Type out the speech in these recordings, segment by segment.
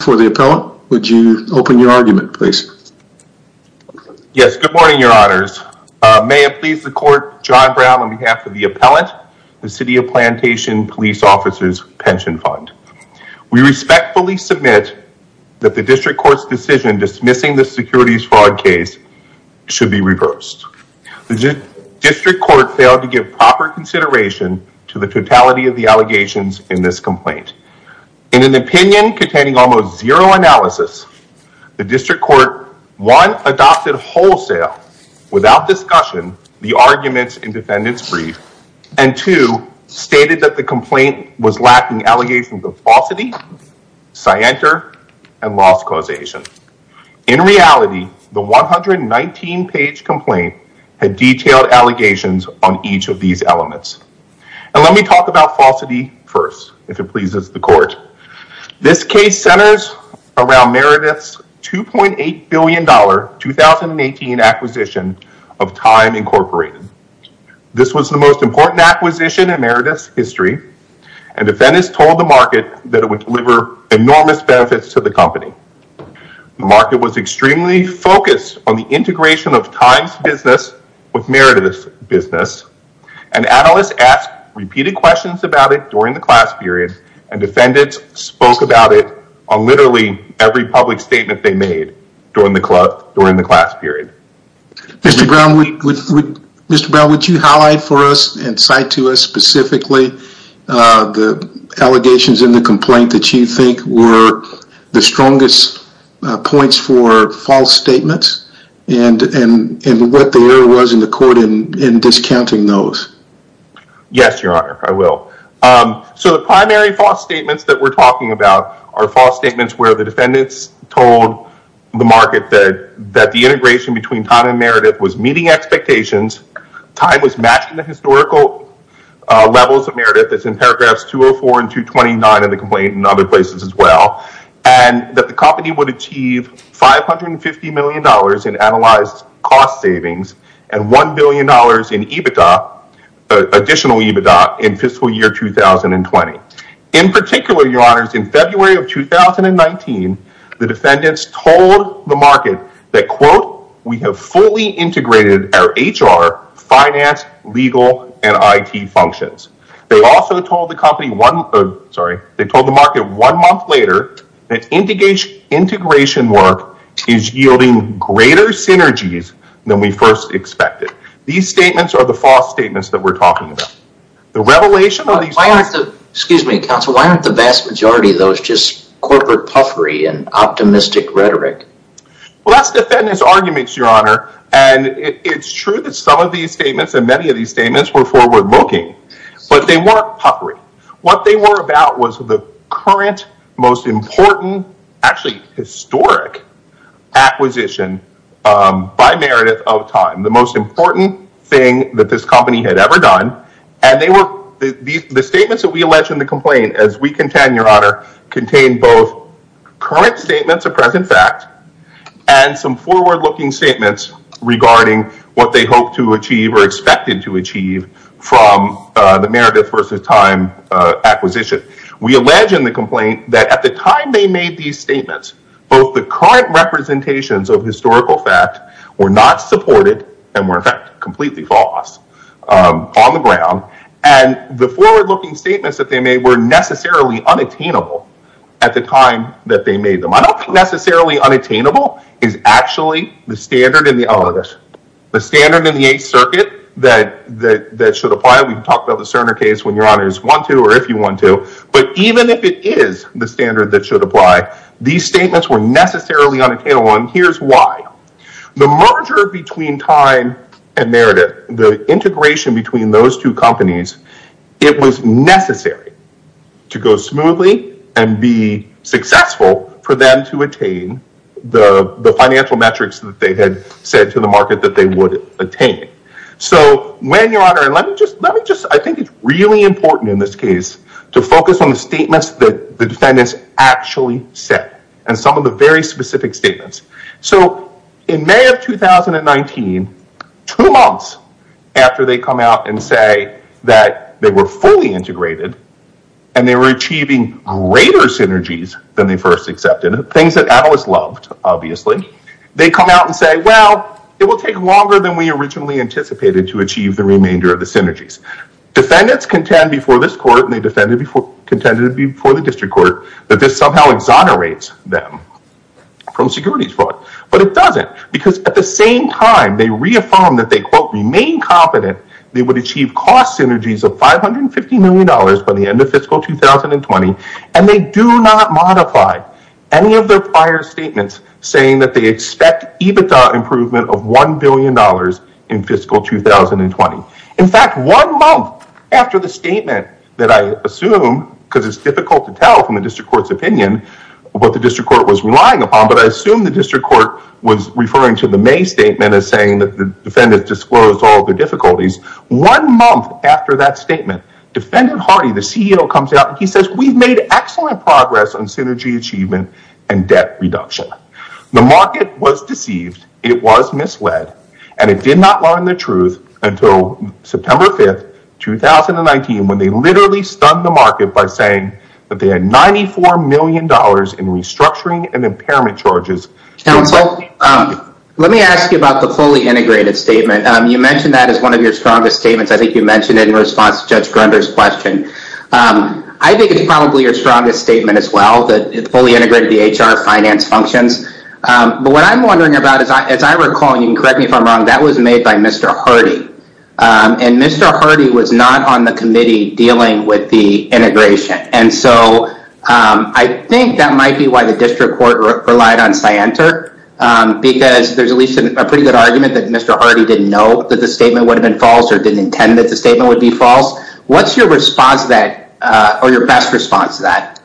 for the appellate. Would you open your argument please? Yes, good morning your honors. May it please the court, John Brown on behalf of the appellate, the City of Plantation Police Officers Pension Fund. We respectfully submit that the district court's decision dismissing the securities fraud case should be reversed. The district court failed to give proper consideration to the totality of the allegations in this complaint. In an opinion containing almost zero analysis, the district court one adopted wholesale without discussion the arguments in defendants brief and two stated that the complaint was lacking allegations of falsity, scienter, and loss causation. In reality the 119 page complaint had detailed allegations on each of these elements. And let me talk about falsity first if it pleases the court. This case centers around Meredith's 2.8 billion dollar 2018 acquisition of Time Incorporated. This was the most important acquisition in Meredith's history and defendants told the market that it would deliver enormous benefits to the company. The market was extremely focused on the integration of Time's business with the company. The analysts asked repeated questions about it during the class period and defendants spoke about it on literally every public statement they made during the class period. Mr. Brown would Mr. Brown would you highlight for us and cite to us specifically the allegations in the complaint that you think were the strongest points for false statements and what the error was in the court in discounting those. Yes your honor I will. So the primary false statements that we're talking about are false statements where the defendants told the market that that the integration between Time and Meredith was meeting expectations, Time was matching the historical levels of Meredith that's in paragraphs 204 and 229 of the complaint in other places as well, and that the company would achieve five hundred and fifty dollars in analyzed cost savings and one billion dollars in EBITDA additional EBITDA in fiscal year 2020. In particular your honors in February of 2019 the defendants told the market that quote we have fully integrated our HR finance legal and IT functions. They also told the company one sorry they told the market one month later that integration work is yielding greater synergies than we first expected. These statements are the false statements that we're talking about. The revelation of these, excuse me counsel why aren't the vast majority of those just corporate puffery and optimistic rhetoric? Well that's defendants arguments your honor and it's true that some of these statements and many of these statements were forward-looking but they weren't puffery. What they were about was the current most important actually historic acquisition by Meredith of Time. The most important thing that this company had ever done and they were the statements that we alleged in the complaint as we contend your honor contain both current statements of present fact and some forward-looking statements regarding what they hope to achieve or expected to achieve from the Meredith versus Time acquisition. We allege in the complaint that at the time they made these statements both the current representations of historical fact were not supported and were in fact completely false on the ground and the forward-looking statements that they made were necessarily unattainable at the time that they made them. I don't think necessarily unattainable is actually the standard in the oh this the standard in the Eighth Circuit that that should apply we've talked about the Cerner case when your honors want to or if you want to but even if it is the standard that should apply these statements were necessarily unattainable and here's why. The merger between Time and Meredith the integration between those two companies it was necessary to go smoothly and be successful for them to attain the the financial metrics that they had said to the market that they would attain. So when your honor and let me just let me just I think it's really important in this case to focus on the statements that the defendants actually said and some of the very specific statements. So in May of 2019 two months after they come out and say that they were fully integrated and they were achieving greater synergies than they first accepted things that analysts loved obviously they come out and say well it will take longer than we originally anticipated to achieve the remainder of the synergies. Defendants contend before this court and they defended before contended before the district court that this somehow exonerates them from securities fraud but it doesn't because at the same time they reaffirmed that they quote remain competent they would achieve cost synergies of 550 million dollars by the end of fiscal 2020 and they do not modify any of their prior statements saying that they expect EBITDA improvement of 1 billion dollars in fiscal 2020. In fact one month after the statement that I assume because it's difficult to tell from the district court's opinion what the district court was relying upon but I assume the district court was referring to the May statement as saying that the defendants disclosed all the difficulties. One month after that statement defendant Hardy the CEO comes out he says we've made excellent progress on synergy achievement and debt reduction. The market was deceived it was misled and it did not learn the truth until September 5th 2019 when they literally stunned the market by saying that they had ninety four million dollars in restructuring and impairment charges. Let me ask you about the fully integrated statement you mentioned that is one of your strongest statements I think you mentioned it in response to Judge Grunder's question. I think it's probably your strongest statement as well that it fully integrated the HR finance functions but what I'm wondering about is I as I recall you can correct me if I'm wrong that was made by Mr. Hardy and Mr. Hardy was not on the committee dealing with the integration and so I think that might be why the district court relied on Scienter because there's at least a pretty good argument that Mr. Hardy didn't know that the statement would have been false or didn't intend that the statement would be false. What's your response to that or your best response to that?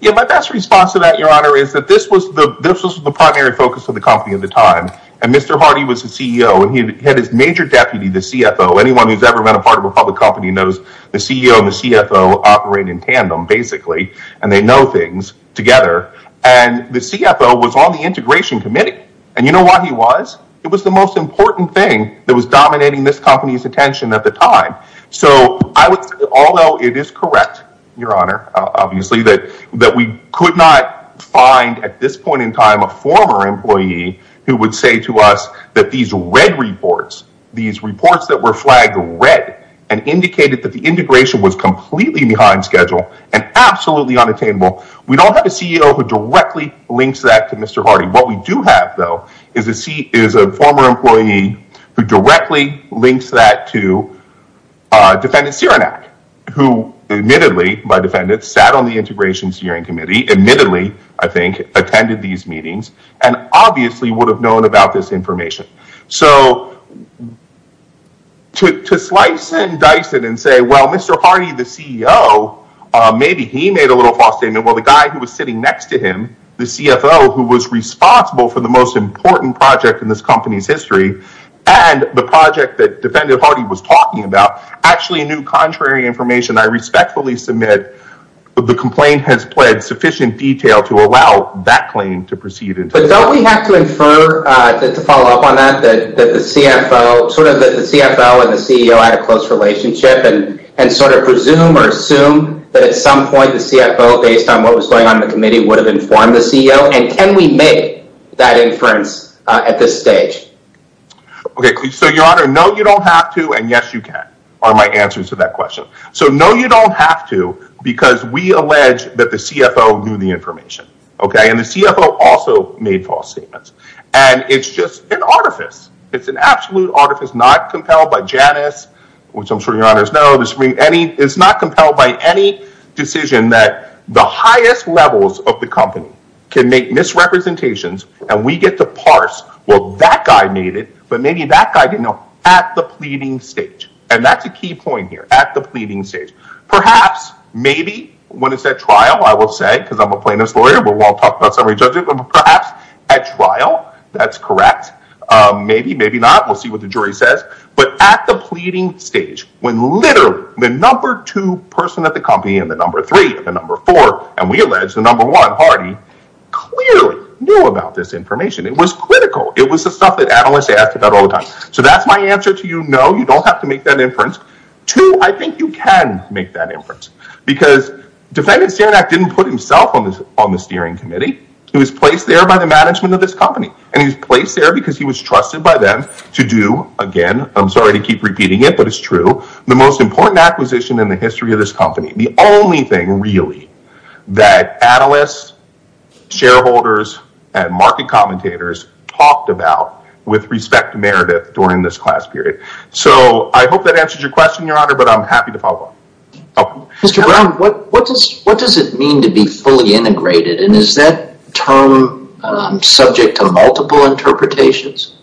Yeah my best response to that your honor is that this was the this was the primary focus of the company at the time and Mr. Hardy was the CEO and he had his major deputy the CFO anyone who's ever been a part of a public company knows the CEO and the CFO operate in tandem basically and they know things together and the CFO was on the integration committee and you know what he was it was the most important thing that was dominating this company's attention at the time so I would although it is correct your honor obviously that that we could not find at this point in time a former employee who would say to us that these red reports these reports that were flagged red and indicated that the integration was completely behind schedule and absolutely unattainable we don't have a CEO who directly links that to Mr. Hardy what we do have though is a seat is a former employee who directly links that to defendant Cerenak who admittedly by defendants sat on the integrations hearing committee admittedly I think attended these meetings and obviously would have known about this information so to slice and dice it and say well mr. Hardy the CEO maybe he made a little false statement well the guy who was sitting next to him the CFO who was important project in this company's history and the project that defendant Hardy was talking about actually knew contrary information I respectfully submit the complaint has pled sufficient detail to allow that claim to proceed but don't we have to infer that to follow up on that that the CFO sort of that the CFO and the CEO had a close relationship and and sort of presume or assume that at some point the CFO based on what was going on the committee would inform the CEO and can we make that inference at this stage okay so your honor no you don't have to and yes you can are my answers to that question so no you don't have to because we allege that the CFO knew the information okay and the CFO also made false statements and it's just an artifice it's an absolute artifice not compelled by Janice which I'm sure your honors know this ring any it's not compelled by any decision that the highest levels of the company can make misrepresentations and we get to parse well that guy made it but maybe that guy didn't know at the pleading stage and that's a key point here at the pleading stage perhaps maybe when it's at trial I will say because I'm a plaintiff's lawyer but we'll talk about summary judgment perhaps at trial that's correct maybe maybe not we'll see what the jury says but at the pleading stage when literally the number two person at the company and the number three the number four and we allege the number one party clearly knew about this information it was critical it was the stuff that analysts asked about all the time so that's my answer to you no you don't have to make that inference to I think you can make that inference because defendants here that didn't put himself on this on the steering committee he was placed there by the management of this company and he's placed there because he was trusted by them to do again I'm sorry to keep repeating it but it's true the most really that analysts shareholders and market commentators talked about with respect to Meredith during this class period so I hope that answers your question your honor but I'm happy to follow up mr. Brown what what does what does it mean to be fully integrated and is that term subject to multiple interpretations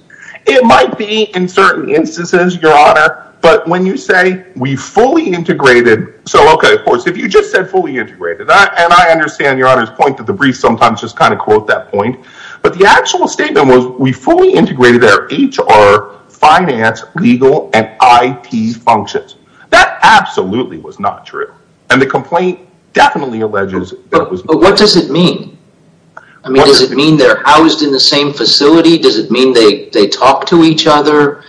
it might be in certain instances your honor but when you say we fully integrated so okay of course if you just said fully integrated that and I understand your honor's point that the brief sometimes just kind of quote that point but the actual statement was we fully integrated our HR finance legal and IT functions that absolutely was not true and the complaint definitely alleges what does it mean I mean does it mean they're housed in the same facility does it mean they they talk to each other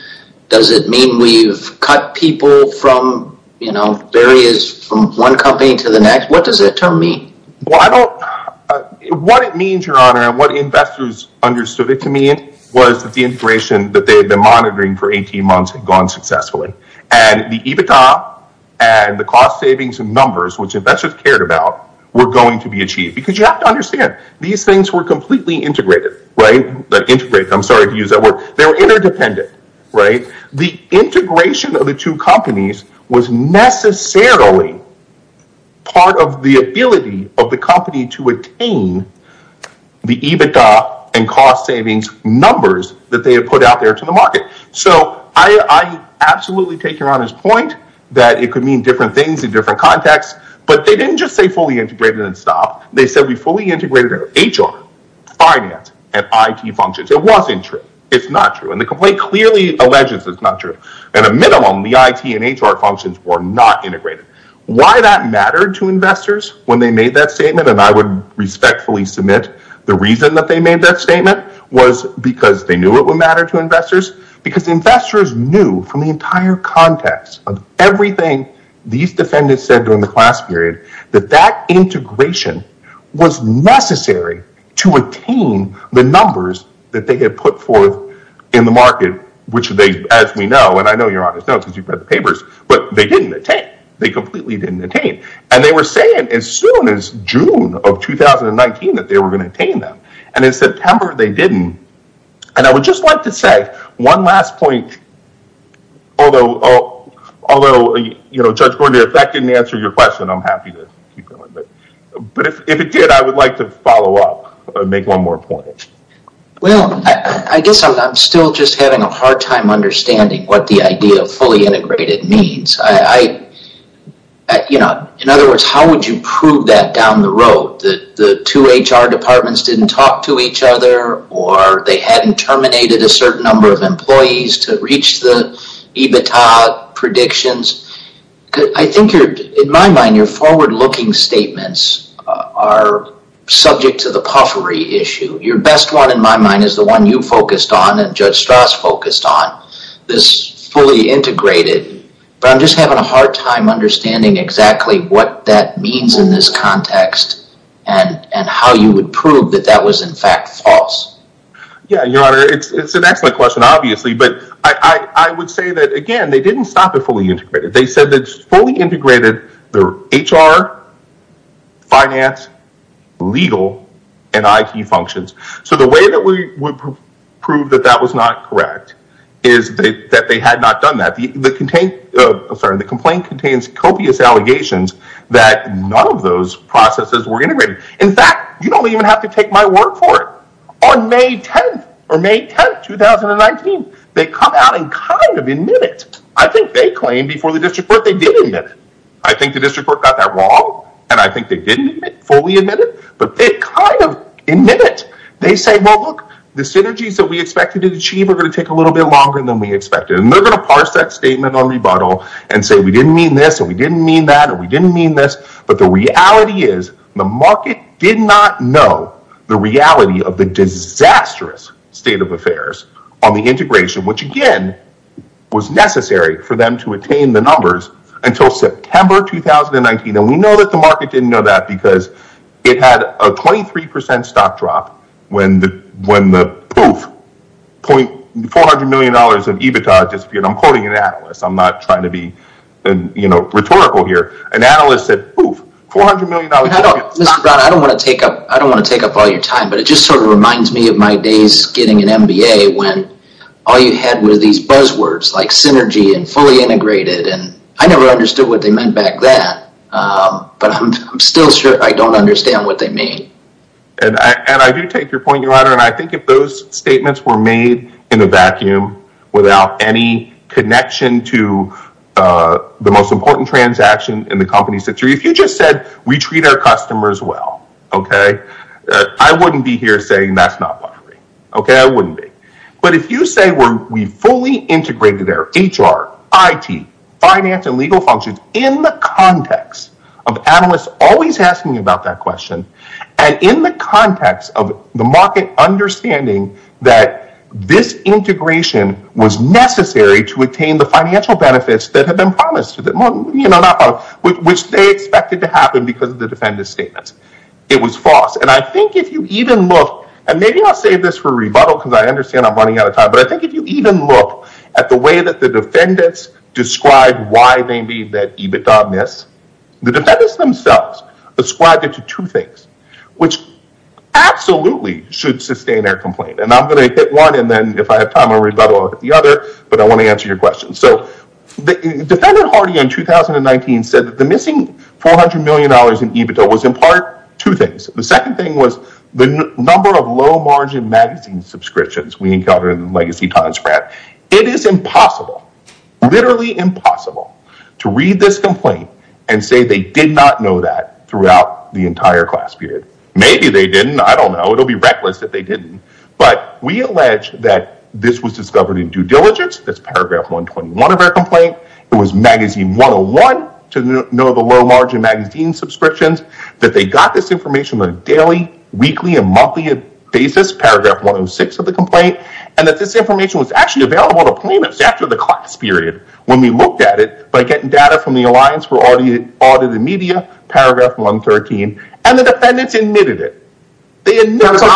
does it mean we've cut people from you know there is from one company to the next what does it tell me well I don't what it means your honor and what investors understood it to me it was that the integration that they've been monitoring for 18 months had gone successfully and the EBITDA and the cost savings and numbers which investors cared about we're going to be achieved because you have to understand these things were completely integrated right that integrate them sorry to use that word they're interdependent right the integration of the two companies was necessarily part of the ability of the company to attain the EBITDA and cost savings numbers that they have put out there to the market so I absolutely take your honor's point that it could mean different things in different contexts but they didn't just say fully integrated and stop they said we fully integrated our HR finance and IT functions it wasn't true it's not true and the complaint clearly alleges it's not true and a minimum the IT and HR functions were not integrated why that mattered to investors when they made that statement and I would respectfully submit the reason that they made that statement was because they knew it would matter to investors because investors knew from the entire context of everything these defendants said during the class period that that integration was necessary to attain the numbers that they had put forth in the market which they as we know and I know you're on this note because you've read the papers but they didn't attain they completely didn't attain and they were saying as soon as June of 2019 that they were going to attain them and in September they didn't and I would just like to say one last point although although you know Judge Gordy if that didn't answer your question I'm happy to but if it did I would like to follow up make one more point well I guess I'm still just having a hard time understanding what the idea of fully integrated means I you know in other words how would you prove that down the road that the two HR departments didn't talk to each other or they hadn't terminated a certain number of employees to reach the EBITDA predictions I think in my mind your forward-looking statements are subject to the puffery issue your best one in my mind is the one you focused on and Judge Strauss focused on this fully integrated but I'm just having a hard time understanding exactly what that means in this context and and how you would prove that that was in fact false yeah your honor it's an excellent question obviously but I would say that again they didn't stop it fully integrated they said that's fully integrated their HR finance legal and I key functions so the way that we would prove that that was not correct is that they had not done that the contain sorry the complaint contains copious allegations that none of those processes were integrated in fact you don't even have to take my word for it on May 10th or May 10th 2019 they come out and kind of admit it I think they claim before the district but they didn't admit it I think the district got that wrong and I think they didn't fully admit it but they kind of admit it they say well look the synergies that we expected to achieve are going to take a little bit longer than we expected and they're gonna parse that statement on rebuttal and say we didn't mean this and we didn't mean that and we didn't mean this but the reality is the reality of the disastrous state of affairs on the integration which again was necessary for them to attain the numbers until September 2019 and we know that the market didn't know that because it had a 23% stock drop when the when the poof point four hundred million dollars of EBITDA disappeared I'm quoting an analyst I'm not trying to be and you know rhetorical here an analyst said I don't want to take up I don't want to take up all your time but it just sort of reminds me of my days getting an MBA when all you had were these buzzwords like synergy and fully integrated and I never understood what they meant back then but I'm still sure I don't understand what they mean and I do take your point you honor and I think if those statements were made in a vacuum without any connection to the most important transaction in the company's history if you just said we treat our customers well okay I wouldn't be here saying that's not okay I wouldn't be but if you say we're we fully integrated their HR IT finance and legal functions in the context of analysts always asking about that question and in the context of the market understanding that this integration was necessary to attain the expected to happen because of the defendants statements it was false and I think if you even look and maybe I'll save this for rebuttal because I understand I'm running out of time but I think if you even look at the way that the defendants described why they need that EBITDA miss the defendants themselves described it to two things which absolutely should sustain their complaint and I'm gonna hit one and then if I have time I read about all the other but I want to answer your question so the defendant Hardy in 2019 said that missing 400 million dollars in EBITDA was in part two things the second thing was the number of low-margin magazine subscriptions we encounter in the legacy time spread it is impossible literally impossible to read this complaint and say they did not know that throughout the entire class period maybe they didn't I don't know it'll be reckless if they didn't but we allege that this was discovered in due diligence that's paragraph 121 of our complaint it was magazine 101 to know the low margin magazine subscriptions that they got this information on a daily weekly and monthly basis paragraph 106 of the complaint and that this information was actually available to plaintiffs after the class period when we looked at it by getting data from the Alliance for Audit Audited Media paragraph 113 and the defendants admitted it I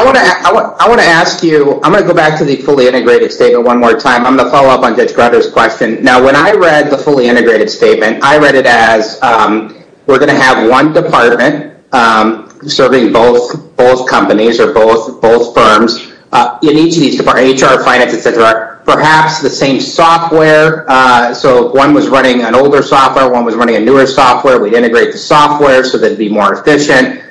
want to ask you I'm gonna go back to the fully integrated statement one more time I'm I read the fully integrated statement I read it as we're gonna have one department serving both both companies or both both firms you need to these depart HR finance etc perhaps the same software so one was running an older software one was running a newer software we'd integrate the software so they'd be more efficient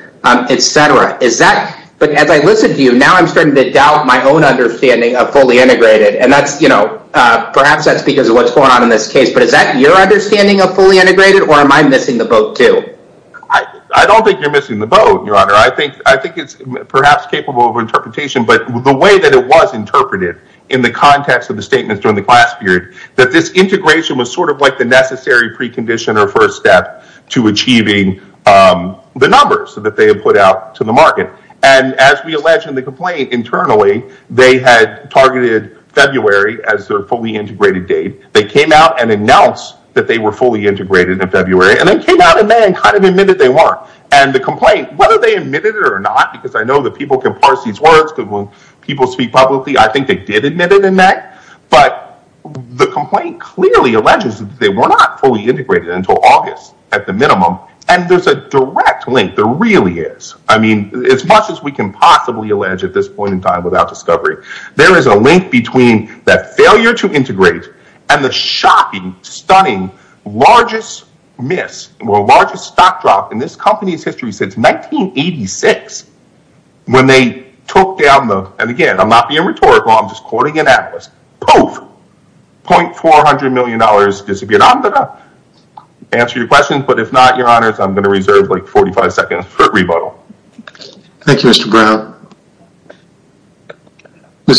etc is that but as I listen to you now I'm starting to doubt my own understanding of fully integrated and that's you know perhaps that's because of what's going on in this case but is that your understanding of fully integrated or am I missing the boat to I don't think you're missing the boat your honor I think I think it's perhaps capable of interpretation but the way that it was interpreted in the context of the statements during the class period that this integration was sort of like the necessary precondition or first step to achieving the numbers so that they have put out to the market and as we allege in the complaint internally they had targeted February as their fully integrated date they came out and announced that they were fully integrated in February and they came out and then kind of admitted they weren't and the complaint whether they admitted it or not because I know that people can parse these words because when people speak publicly I think they did admit it in that but the complaint clearly alleges that they were not fully integrated until August at the minimum and there's a direct link there really is I mean as much as we can possibly allege at this point in time without discovery there is a link between that failure to integrate and the shocking stunning largest miss largest stock drop in this company's history since 1986 when they took down the and again I'm not being rhetorical I'm just quoting an atlas both point four hundred million dollars disappeared on the answer your questions but if not your honors I'm gonna reserve like 45 seconds for Ms.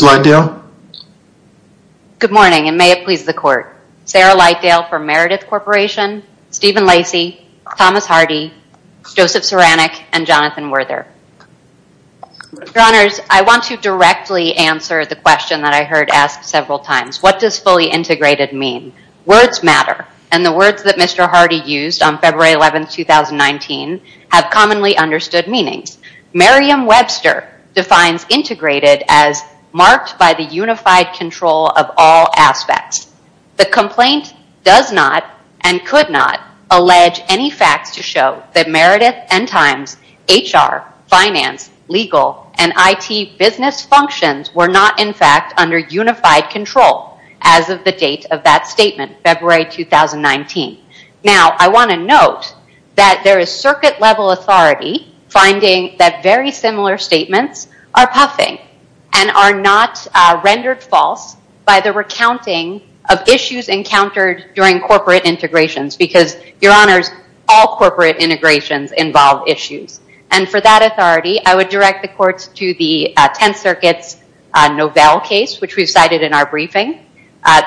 Lightdale. Good morning and may it please the court Sarah Lightdale for Meredith Corporation, Stephen Lacey, Thomas Hardy, Joseph Ceranic and Jonathan Werther. Your honors I want to directly answer the question that I heard asked several times what does fully integrated mean? Words matter and the words that Mr. Hardy used on February 11th 2019 have commonly understood meanings. Merriam-Webster defines integrated as marked by the unified control of all aspects. The complaint does not and could not allege any facts to show that Meredith and times HR, finance, legal and IT business functions were not in fact under unified control as of the date of that statement February 2019. Now I want to note that there is circuit level authority finding that very similar statements are puffing and are not rendered false by the recounting of issues encountered during corporate integrations because your honors all corporate integrations involve issues and for that authority I would direct the courts to the 10th Circuit's Novell case which we've cited in our briefing.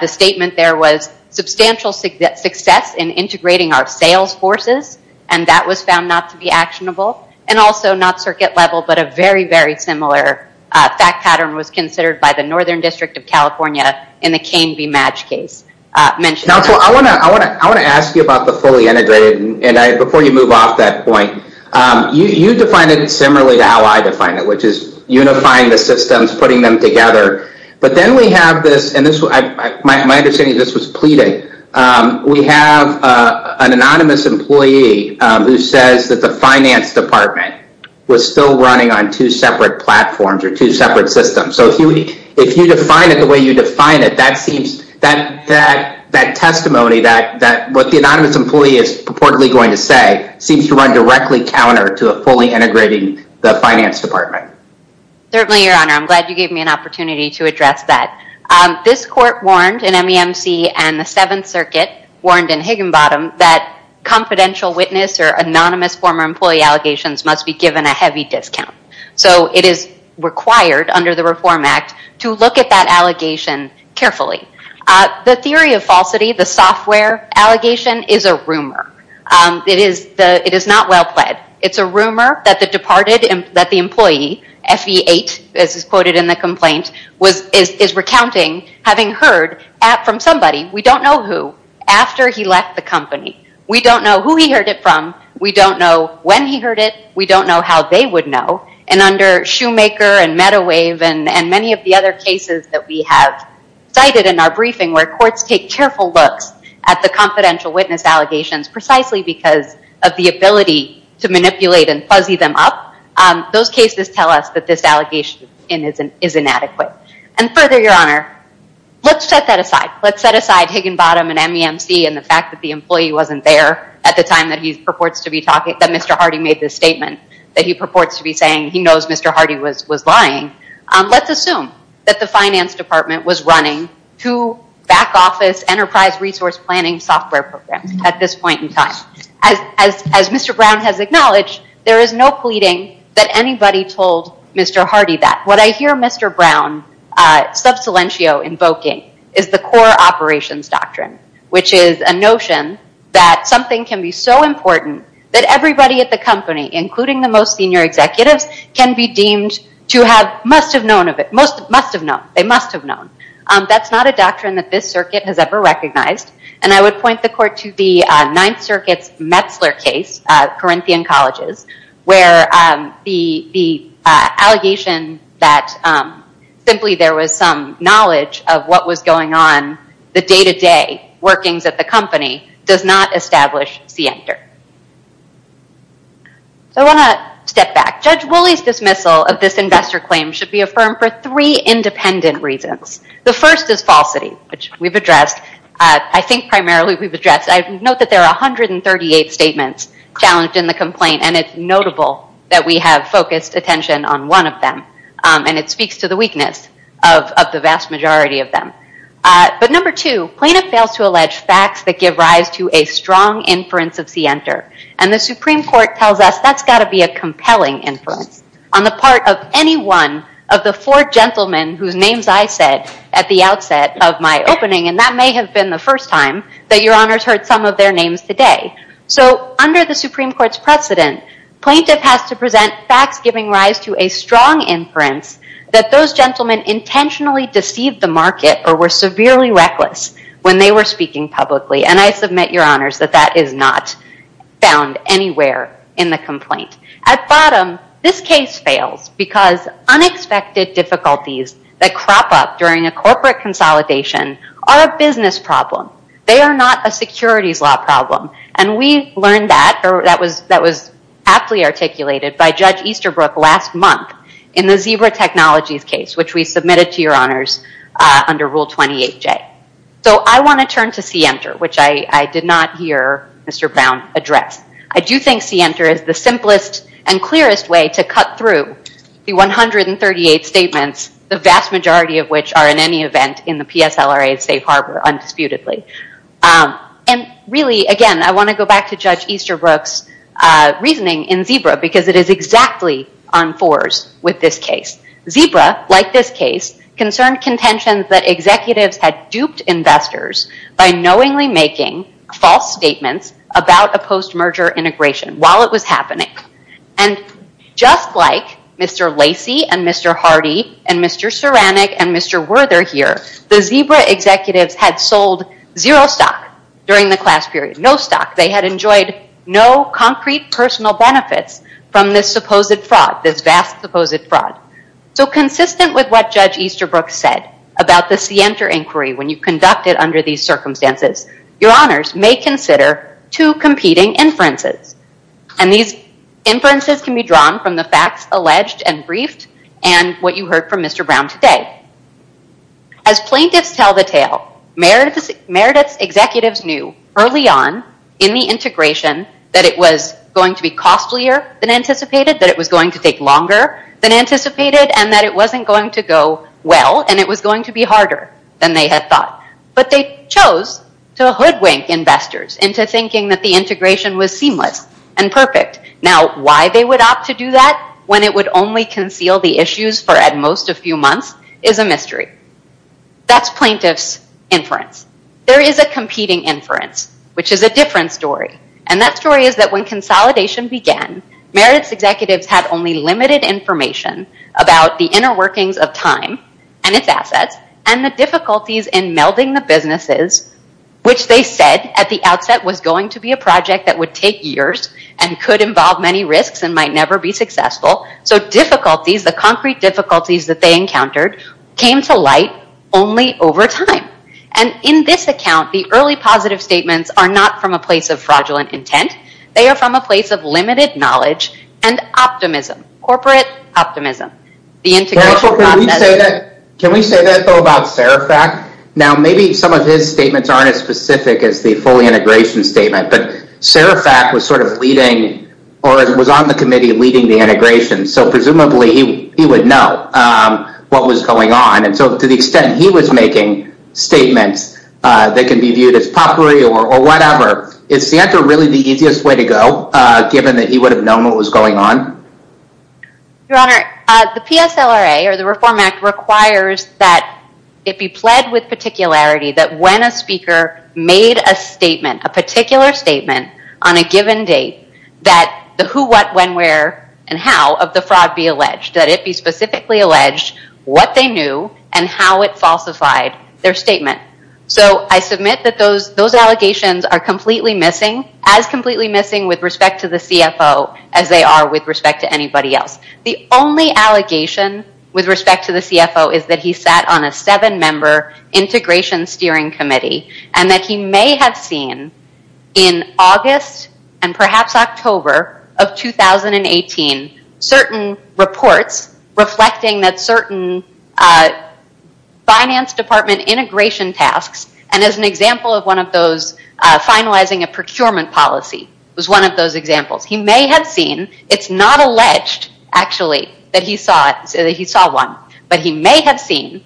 The statement there was substantial success in integrating our sales forces and that was found not to be actionable and also not circuit level but a very very similar fact pattern was considered by the Northern District of California in the Cain v. Madge case. Now I want to ask you about the fully integrated and before you move off that point you define it similarly to how I define it which is unifying the systems putting them together but then we have this and this was my understanding this was pleading. We have an anonymous employee who says that the finance department was still running on two separate platforms or two separate systems so if you define it the way you define it that seems that that that testimony that that what the anonymous employee is purportedly going to say seems to run directly counter to a fully integrating the finance department. Certainly your honor I'm glad you gave me an opportunity to address that. This court warned in MEMC and the 7th Circuit warned in Higginbottom that confidential witness or anonymous former employee allegations must be given a heavy discount. So it is required under the Reform Act to look at that allegation carefully. The theory of falsity the software allegation is a rumor. It is the it is not well pled. It's a rumor that the departed and that the employee F.E. 8 as is quoted in the complaint was is recounting having heard from somebody we don't know who after he left the company. We don't know who he heard it from. We don't know when he heard it. We don't know how they would know and under Shoemaker and Medawave and and many of the other cases that we have cited in our briefing where courts take careful looks at the confidential witness allegations precisely because of the ability to manipulate and fuzzy them up those cases tell us that this allegation is inadequate. And let's set aside Higginbottom and MEMC and the fact that the employee wasn't there at the time that he purports to be talking that Mr. Hardy made this statement that he purports to be saying he knows Mr. Hardy was was lying. Let's assume that the finance department was running two back office enterprise resource planning software programs at this point in time. As Mr. Brown has acknowledged there is no pleading that anybody told Mr. Hardy that. What I hear Mr. Brown sub silentio invoking is the core operations doctrine which is a notion that something can be so important that everybody at the company including the most senior executives can be deemed to have must have known of it most must have known they must have known. That's not a doctrine that this circuit has ever recognized and I would point the court to the Ninth Circuit's Corinthian Colleges where the the allegation that simply there was some knowledge of what was going on the day-to-day workings at the company does not establish see enter. So I want to step back. Judge Woolley's dismissal of this investor claim should be affirmed for three independent reasons. The first is falsity which we've addressed I think primarily we've addressed I note that there are 138 statements challenged in the complaint and it's notable that we have focused attention on one of them and it speaks to the weakness of the vast majority of them. But number two plaintiff fails to allege facts that give rise to a strong inference of see enter and the Supreme Court tells us that's got to be a compelling inference on the part of any one of the four gentlemen whose names I said at the outset of my opening and that may have been the first time that your honors heard some of their names today. So under the Supreme Court's precedent plaintiff has to present facts giving rise to a strong inference that those gentlemen intentionally deceived the market or were severely reckless when they were speaking publicly and I submit your honors that that is not found anywhere in the complaint. At bottom this case fails because unexpected difficulties that crop up during a corporate consolidation are a business problem they are not a securities law problem and we learned that or that was that was aptly articulated by Judge Easterbrook last month in the zebra technologies case which we submitted to your honors under rule 28 J. So I want to turn to see enter which I did not hear Mr. Brown address. I do think see enter is the simplest and clearest way to cut through the 138 statements the vast majority of which are in any event in the PSLRA safe harbor undisputedly and really again I want to go back to Judge Easterbrook's reasoning in zebra because it is exactly on fours with this case. Zebra like this case concerned contentions that executives had duped investors by knowingly making false statements about a post-merger integration while it was happening and just like Mr. Lacey and Mr. Hardy and Mr. Ceranic and Mr. Werther here the zebra executives had sold zero stock during the class period no stock they had enjoyed no concrete personal benefits from this supposed fraud this vast supposed fraud. So consistent with what Judge Easterbrook said about the see enter inquiry when you conduct it and these inferences can be drawn from the facts alleged and briefed and what you heard from Mr. Brown today. As plaintiffs tell the tale Meredith's executives knew early on in the integration that it was going to be costlier than anticipated that it was going to take longer than anticipated and that it wasn't going to go well and it was going to be harder than they had thought but they chose to hoodwink investors into thinking that the seamless and perfect. Now why they would opt to do that when it would only conceal the issues for at most a few months is a mystery. That's plaintiffs inference. There is a competing inference which is a different story and that story is that when consolidation began Meredith's executives had only limited information about the inner workings of time and its assets and the difficulties in melding the businesses which they said at the outset was going to be a project that would take years and could involve many risks and might never be successful so difficulties the concrete difficulties that they encountered came to light only over time and in this account the early positive statements are not from a place of fraudulent intent they are from a place of limited knowledge and optimism corporate optimism. Can we say that about Serifac? Now maybe some of his statements aren't as specific as the full integration statement but Serifac was sort of leading or was on the committee leading the integration so presumably he would know what was going on and so to the extent he was making statements that can be viewed as potpourri or whatever. Is Sienta really the easiest way to go given that he would have known what was going on? Your Honor, the PSLRA or the Reform Act requires that it be pled with particularity that when a speaker made a statement a particular statement on a given date that the who what when where and how of the fraud be alleged that it be specifically alleged what they knew and how it falsified their statement so I submit that those those allegations are completely missing as completely missing with respect to the anybody else. The only allegation with respect to the CFO is that he sat on a seven-member integration steering committee and that he may have seen in August and perhaps October of 2018 certain reports reflecting that certain finance department integration tasks and as an example of one of those finalizing a procurement policy was one of those examples. He may have seen it's not a pledged actually that he saw it so that he saw one but he may have seen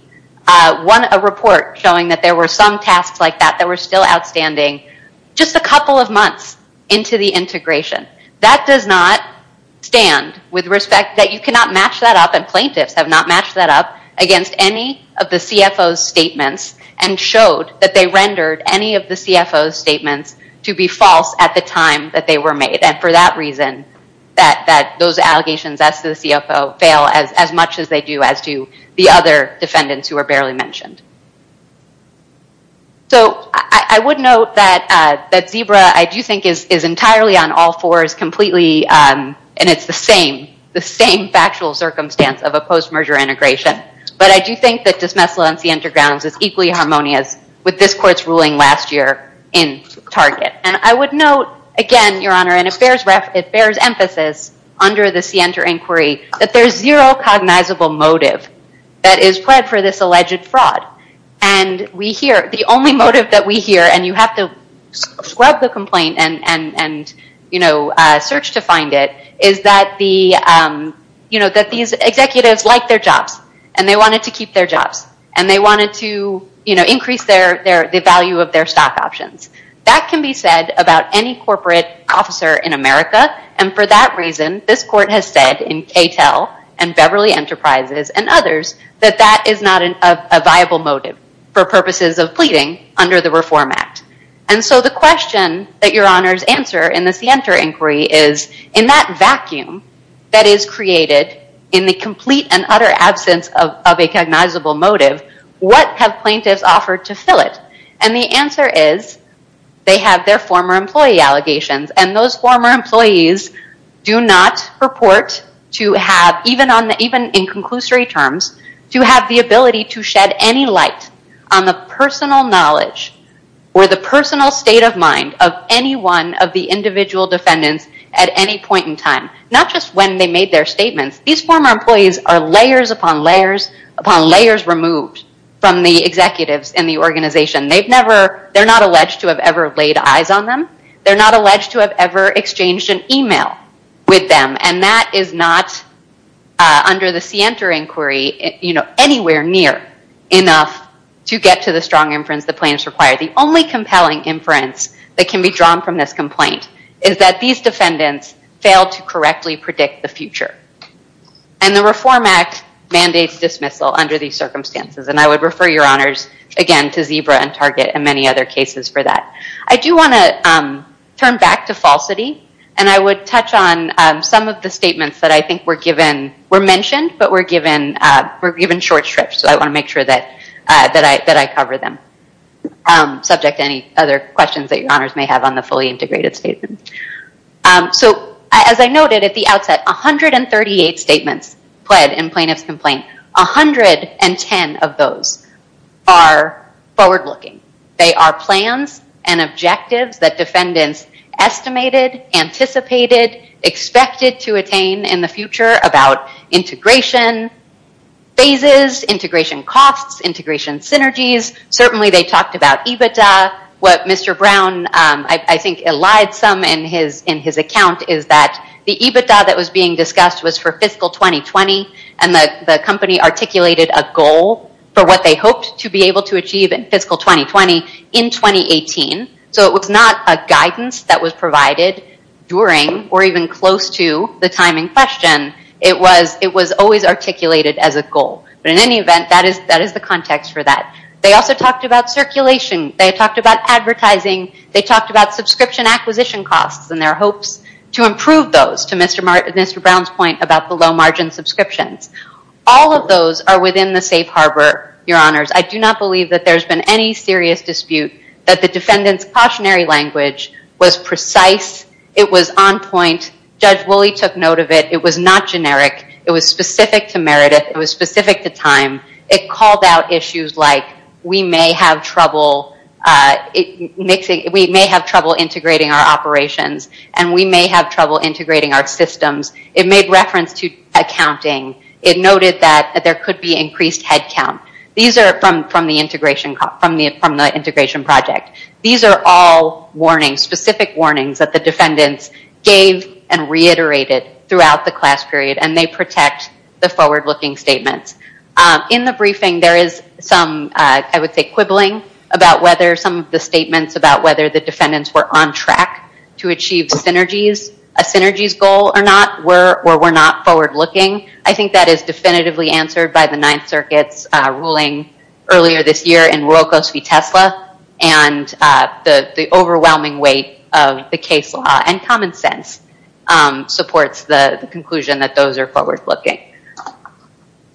one a report showing that there were some tasks like that that were still outstanding just a couple of months into the integration. That does not stand with respect that you cannot match that up and plaintiffs have not matched that up against any of the CFO's statements and showed that they rendered any of the CFO's statements to be false at the time that they were made and for that reason that that those allegations as to the CFO fail as much as they do as to the other defendants who are barely mentioned. So I would note that that Zebra I do think is entirely on all fours completely and it's the same the same factual circumstance of a post-merger integration but I do think that dismissal NC Entergrounds is equally harmonious with this court's ruling last year in Target and I would note again your honor and it bears it bears emphasis under the CNTER inquiry that there's zero cognizable motive that is pled for this alleged fraud and we hear the only motive that we hear and you have to scrub the complaint and and you know search to find it is that the you know that these executives like their jobs and they wanted to keep their jobs and they wanted to you know increase their value of their stock options. That can be said about any corporate officer in America and for that reason this court has said in KTEL and Beverly Enterprises and others that that is not a viable motive for purposes of pleading under the Reform Act and so the question that your honors answer in the CNTER inquiry is in that vacuum that is created in the complete and utter absence of a cognizable motive what have plaintiffs offered to fill it and the answer is they have their former employee allegations and those former employees do not purport to have even on even in conclusory terms to have the ability to shed any light on the personal knowledge or the personal state of mind of any one of the individual defendants at any point in time not just when they made their statements these former employees are layers upon layers upon layers removed from the executives in the organization they've never they're not alleged to have ever laid eyes on them they're not alleged to have ever exchanged an email with them and that is not under the CNTER inquiry you know anywhere near enough to get to the strong inference the plaintiffs require the only compelling inference that can be drawn from this complaint is that these defendants failed to correctly predict the future and the Reform Act mandates dismissal under these circumstances and I would refer your on target and many other cases for that I do want to turn back to falsity and I would touch on some of the statements that I think were given were mentioned but were given were given short strips so I want to make sure that that I that I cover them subject to any other questions that your honors may have on the fully integrated statement so as I noted at the outset 138 statements pled in plaintiffs complaint a hundred and ten of those are forward-looking they are plans and objectives that defendants estimated anticipated expected to attain in the future about integration phases integration costs integration synergies certainly they talked about EBITDA what mr. Brown I think allied some in his in his account is that the EBITDA that was being discussed was for fiscal 2020 and the company articulated a goal for what they hoped to be able to achieve in fiscal 2020 in 2018 so it was not a guidance that was provided during or even close to the timing question it was it was always articulated as a goal but in any event that is that is the context for that they also talked about circulation they talked about advertising they talked about subscription acquisition costs and their hopes to improve those to mr. Martin mr. Brown's point about below-margin subscriptions all of those are within the safe harbor your honors I do not believe that there's been any serious dispute that the defendants cautionary language was precise it was on point judge Willie took note of it it was not generic it was specific to Meredith it was specific to time it called out issues like we may have trouble it makes it we may have trouble integrating our operations and we may have trouble integrating our systems it made reference to accounting it noted that there could be increased headcount these are from from the integration from the from the integration project these are all warning specific warnings that the defendants gave and reiterated throughout the class period and they protect the forward-looking statements in the briefing there is some I would say quibbling about whether some of the statements about whether the defendants were on track to achieve synergies a synergies goal or not we're we're we're not forward-looking I think that is definitively answered by the Ninth Circuit's ruling earlier this year in World Coast V Tesla and the the overwhelming weight of the case law and common sense supports the conclusion that those are forward-looking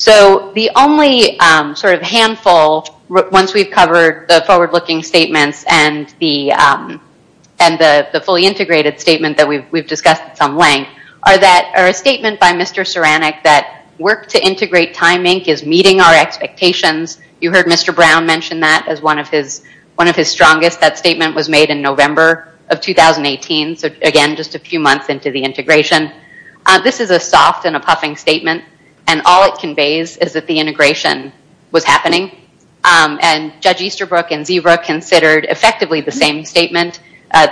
so the only sort of handful once we've covered the forward-looking statements and the and the the fully integrated statement that we've discussed some length are that are a statement by Mr. Ceranic that work to integrate timing is meeting our expectations you heard Mr. Brown mentioned that as one of his one of his strongest that statement was made in November of 2018 so again just a few months into the integration this is a soft and a puffing statement and all it conveys is that the integration was meeting and Judge Easterbrook and Zeebrook considered effectively the same statement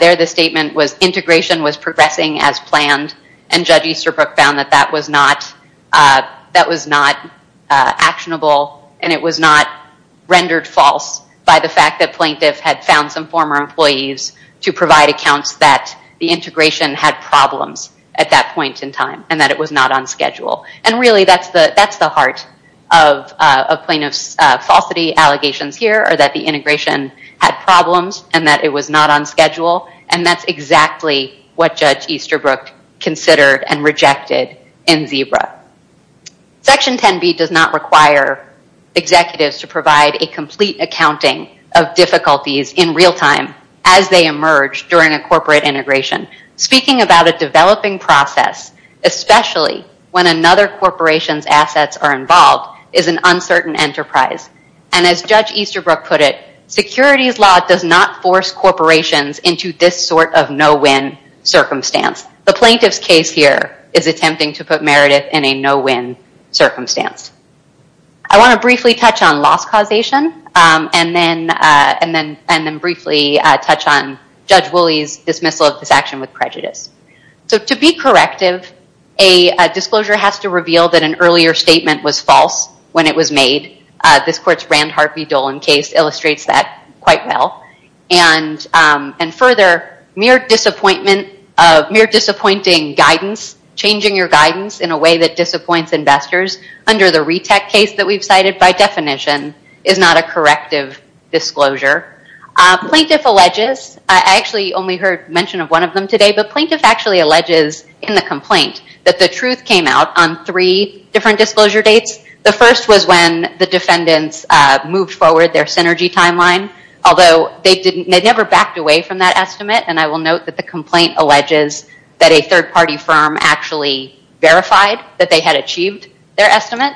there the statement was integration was progressing as planned and Judge Easterbrook found that that was not that was not actionable and it was not rendered false by the fact that plaintiff had found some former employees to provide accounts that the integration had problems at that point in time and that it was not on schedule and really that's the that's the heart of a plaintiff's falsity allegations here or that the integration had problems and that it was not on schedule and that's exactly what Judge Easterbrook considered and rejected in Zebra. Section 10b does not require executives to provide a complete accounting of difficulties in real time as they emerge during a corporate integration speaking about a developing process especially when another corporation's assets are involved is an uncertain enterprise and as Judge Easterbrook put it security's law does not force corporations into this sort of no-win circumstance the plaintiff's case here is attempting to put Meredith in a no-win circumstance. I want to briefly touch on loss causation and then and then and then briefly touch on Judge to be corrective a disclosure has to reveal that an earlier statement was false when it was made this court's Rand Harpy Dolan case illustrates that quite well and and further mere disappointment of mere disappointing guidance changing your guidance in a way that disappoints investors under the retech case that we've cited by definition is not a corrective disclosure. Plaintiff alleges I actually only heard mention of one of them today but plaintiff actually alleges in the complaint that the truth came out on three different disclosure dates the first was when the defendants moved forward their synergy timeline although they didn't they never backed away from that estimate and I will note that the complaint alleges that a third-party firm actually verified that they had achieved their estimate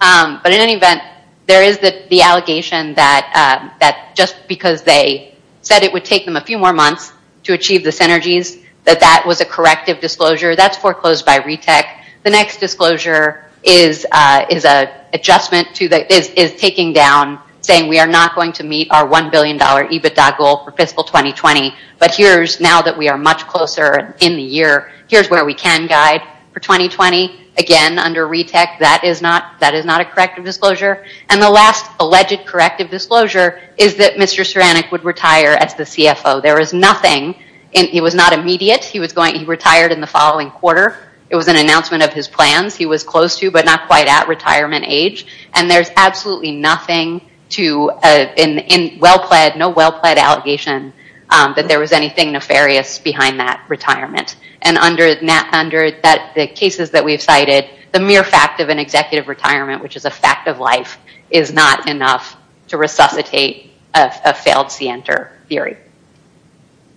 but in any event there is that the allegation that that just because they said it would take them a few more months to that was a corrective disclosure that's foreclosed by retech the next disclosure is is a adjustment to that is taking down saying we are not going to meet our 1 billion dollar EBITDA goal for fiscal 2020 but here's now that we are much closer in the year here's where we can guide for 2020 again under retech that is not that is not a corrective disclosure and the last alleged corrective disclosure is that Mr. Ceranic would retire as the CFO there is nothing and he was not immediate he was going he retired in the following quarter it was an announcement of his plans he was close to but not quite at retirement age and there's absolutely nothing to in well-plaid no well-plaid allegation that there was anything nefarious behind that retirement and under that under that the cases that we've cited the mere fact of an executive retirement which is a fact of life is not enough to resuscitate a failed Sienter theory.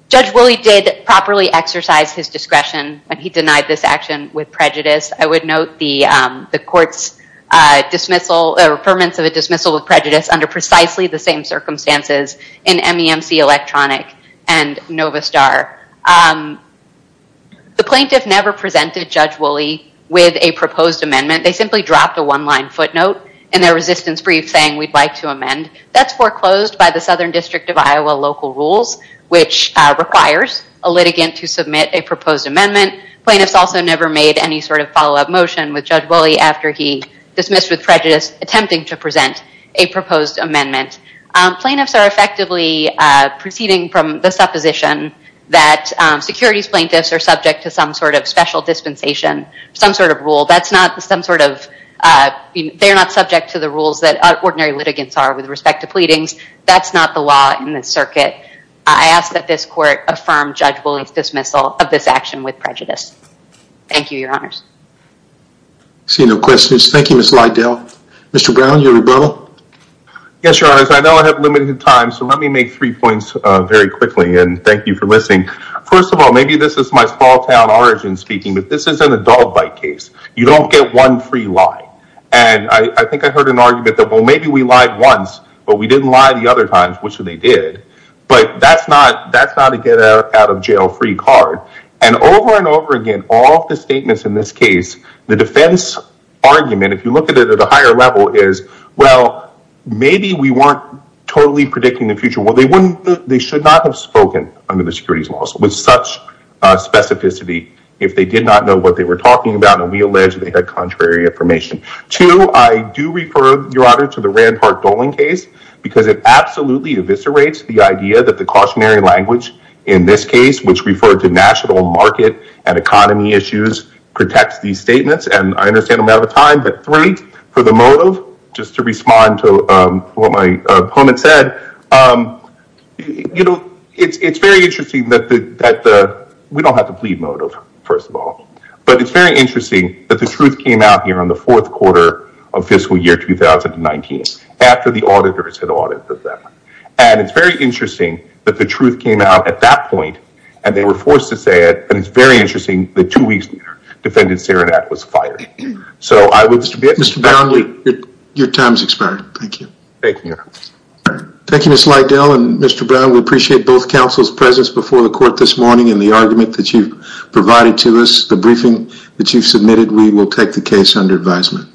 Judge Woolley did properly exercise his discretion and he denied this action with prejudice I would note the the courts dismissal or permits of a dismissal of prejudice under precisely the same circumstances in MEMC electronic and Novastar. The plaintiff never presented Judge Woolley with a proposed amendment they simply dropped a one-line footnote in their resistance brief saying we'd like to amend that's foreclosed by the Southern District of Iowa local rules which requires a litigant to submit a proposed amendment. Plaintiffs also never made any sort of follow-up motion with Judge Woolley after he dismissed with prejudice attempting to present a proposed amendment. Plaintiffs are effectively proceeding from the supposition that securities plaintiffs are subject to some sort of special dispensation some sort of rule that's not some sort of they're not subject to the rules that ordinary litigants are with respect to pleadings that's not the law in the circuit. I ask that this court affirm Judge Woolley's dismissal of this action with prejudice. Thank you your honors. See no questions. Thank you Ms. Lydell. Mr. Brown your rebuttal. Yes your honors I know I have limited time so let me make three points very quickly and thank you for listening. First of all maybe this is my small-town origin speaking but this isn't a dog bite case. You don't get one free lie and I think I heard an argument that well maybe we lied once but we didn't lie the other times which they did but that's not that's not a get out of jail free card and over and over again all the statements in this case the defense argument if you look at it at a higher level is well maybe we weren't totally predicting the future well they wouldn't they should not have spoken under the securities laws with such specificity if they did not know what they were talking about and we alleged they had contrary information. Two I do refer your honor to the Rand Park Dolan case because it absolutely eviscerates the idea that the cautionary language in this case which referred to national market and economy issues protects these statements and I understand I'm out of time but three for the motive just to respond to what my opponent said you know it's it's very interesting that the that the we don't have to plead motive first of all but it's very interesting that the truth came out here on the fourth quarter of fiscal year 2019 after the auditors had audited them and it's very interesting that the truth came out at that point and they were forced to say it and it's very interesting the two weeks later defendant Saranac was fired so I would Mr. Brownlee your time's expired. Thank you. Thank you Mr. Lydell and Mr. Brown we appreciate both counsel's presence before the court this morning and the argument that you've provided to us the briefing that you've submitted we will take the case under advisement.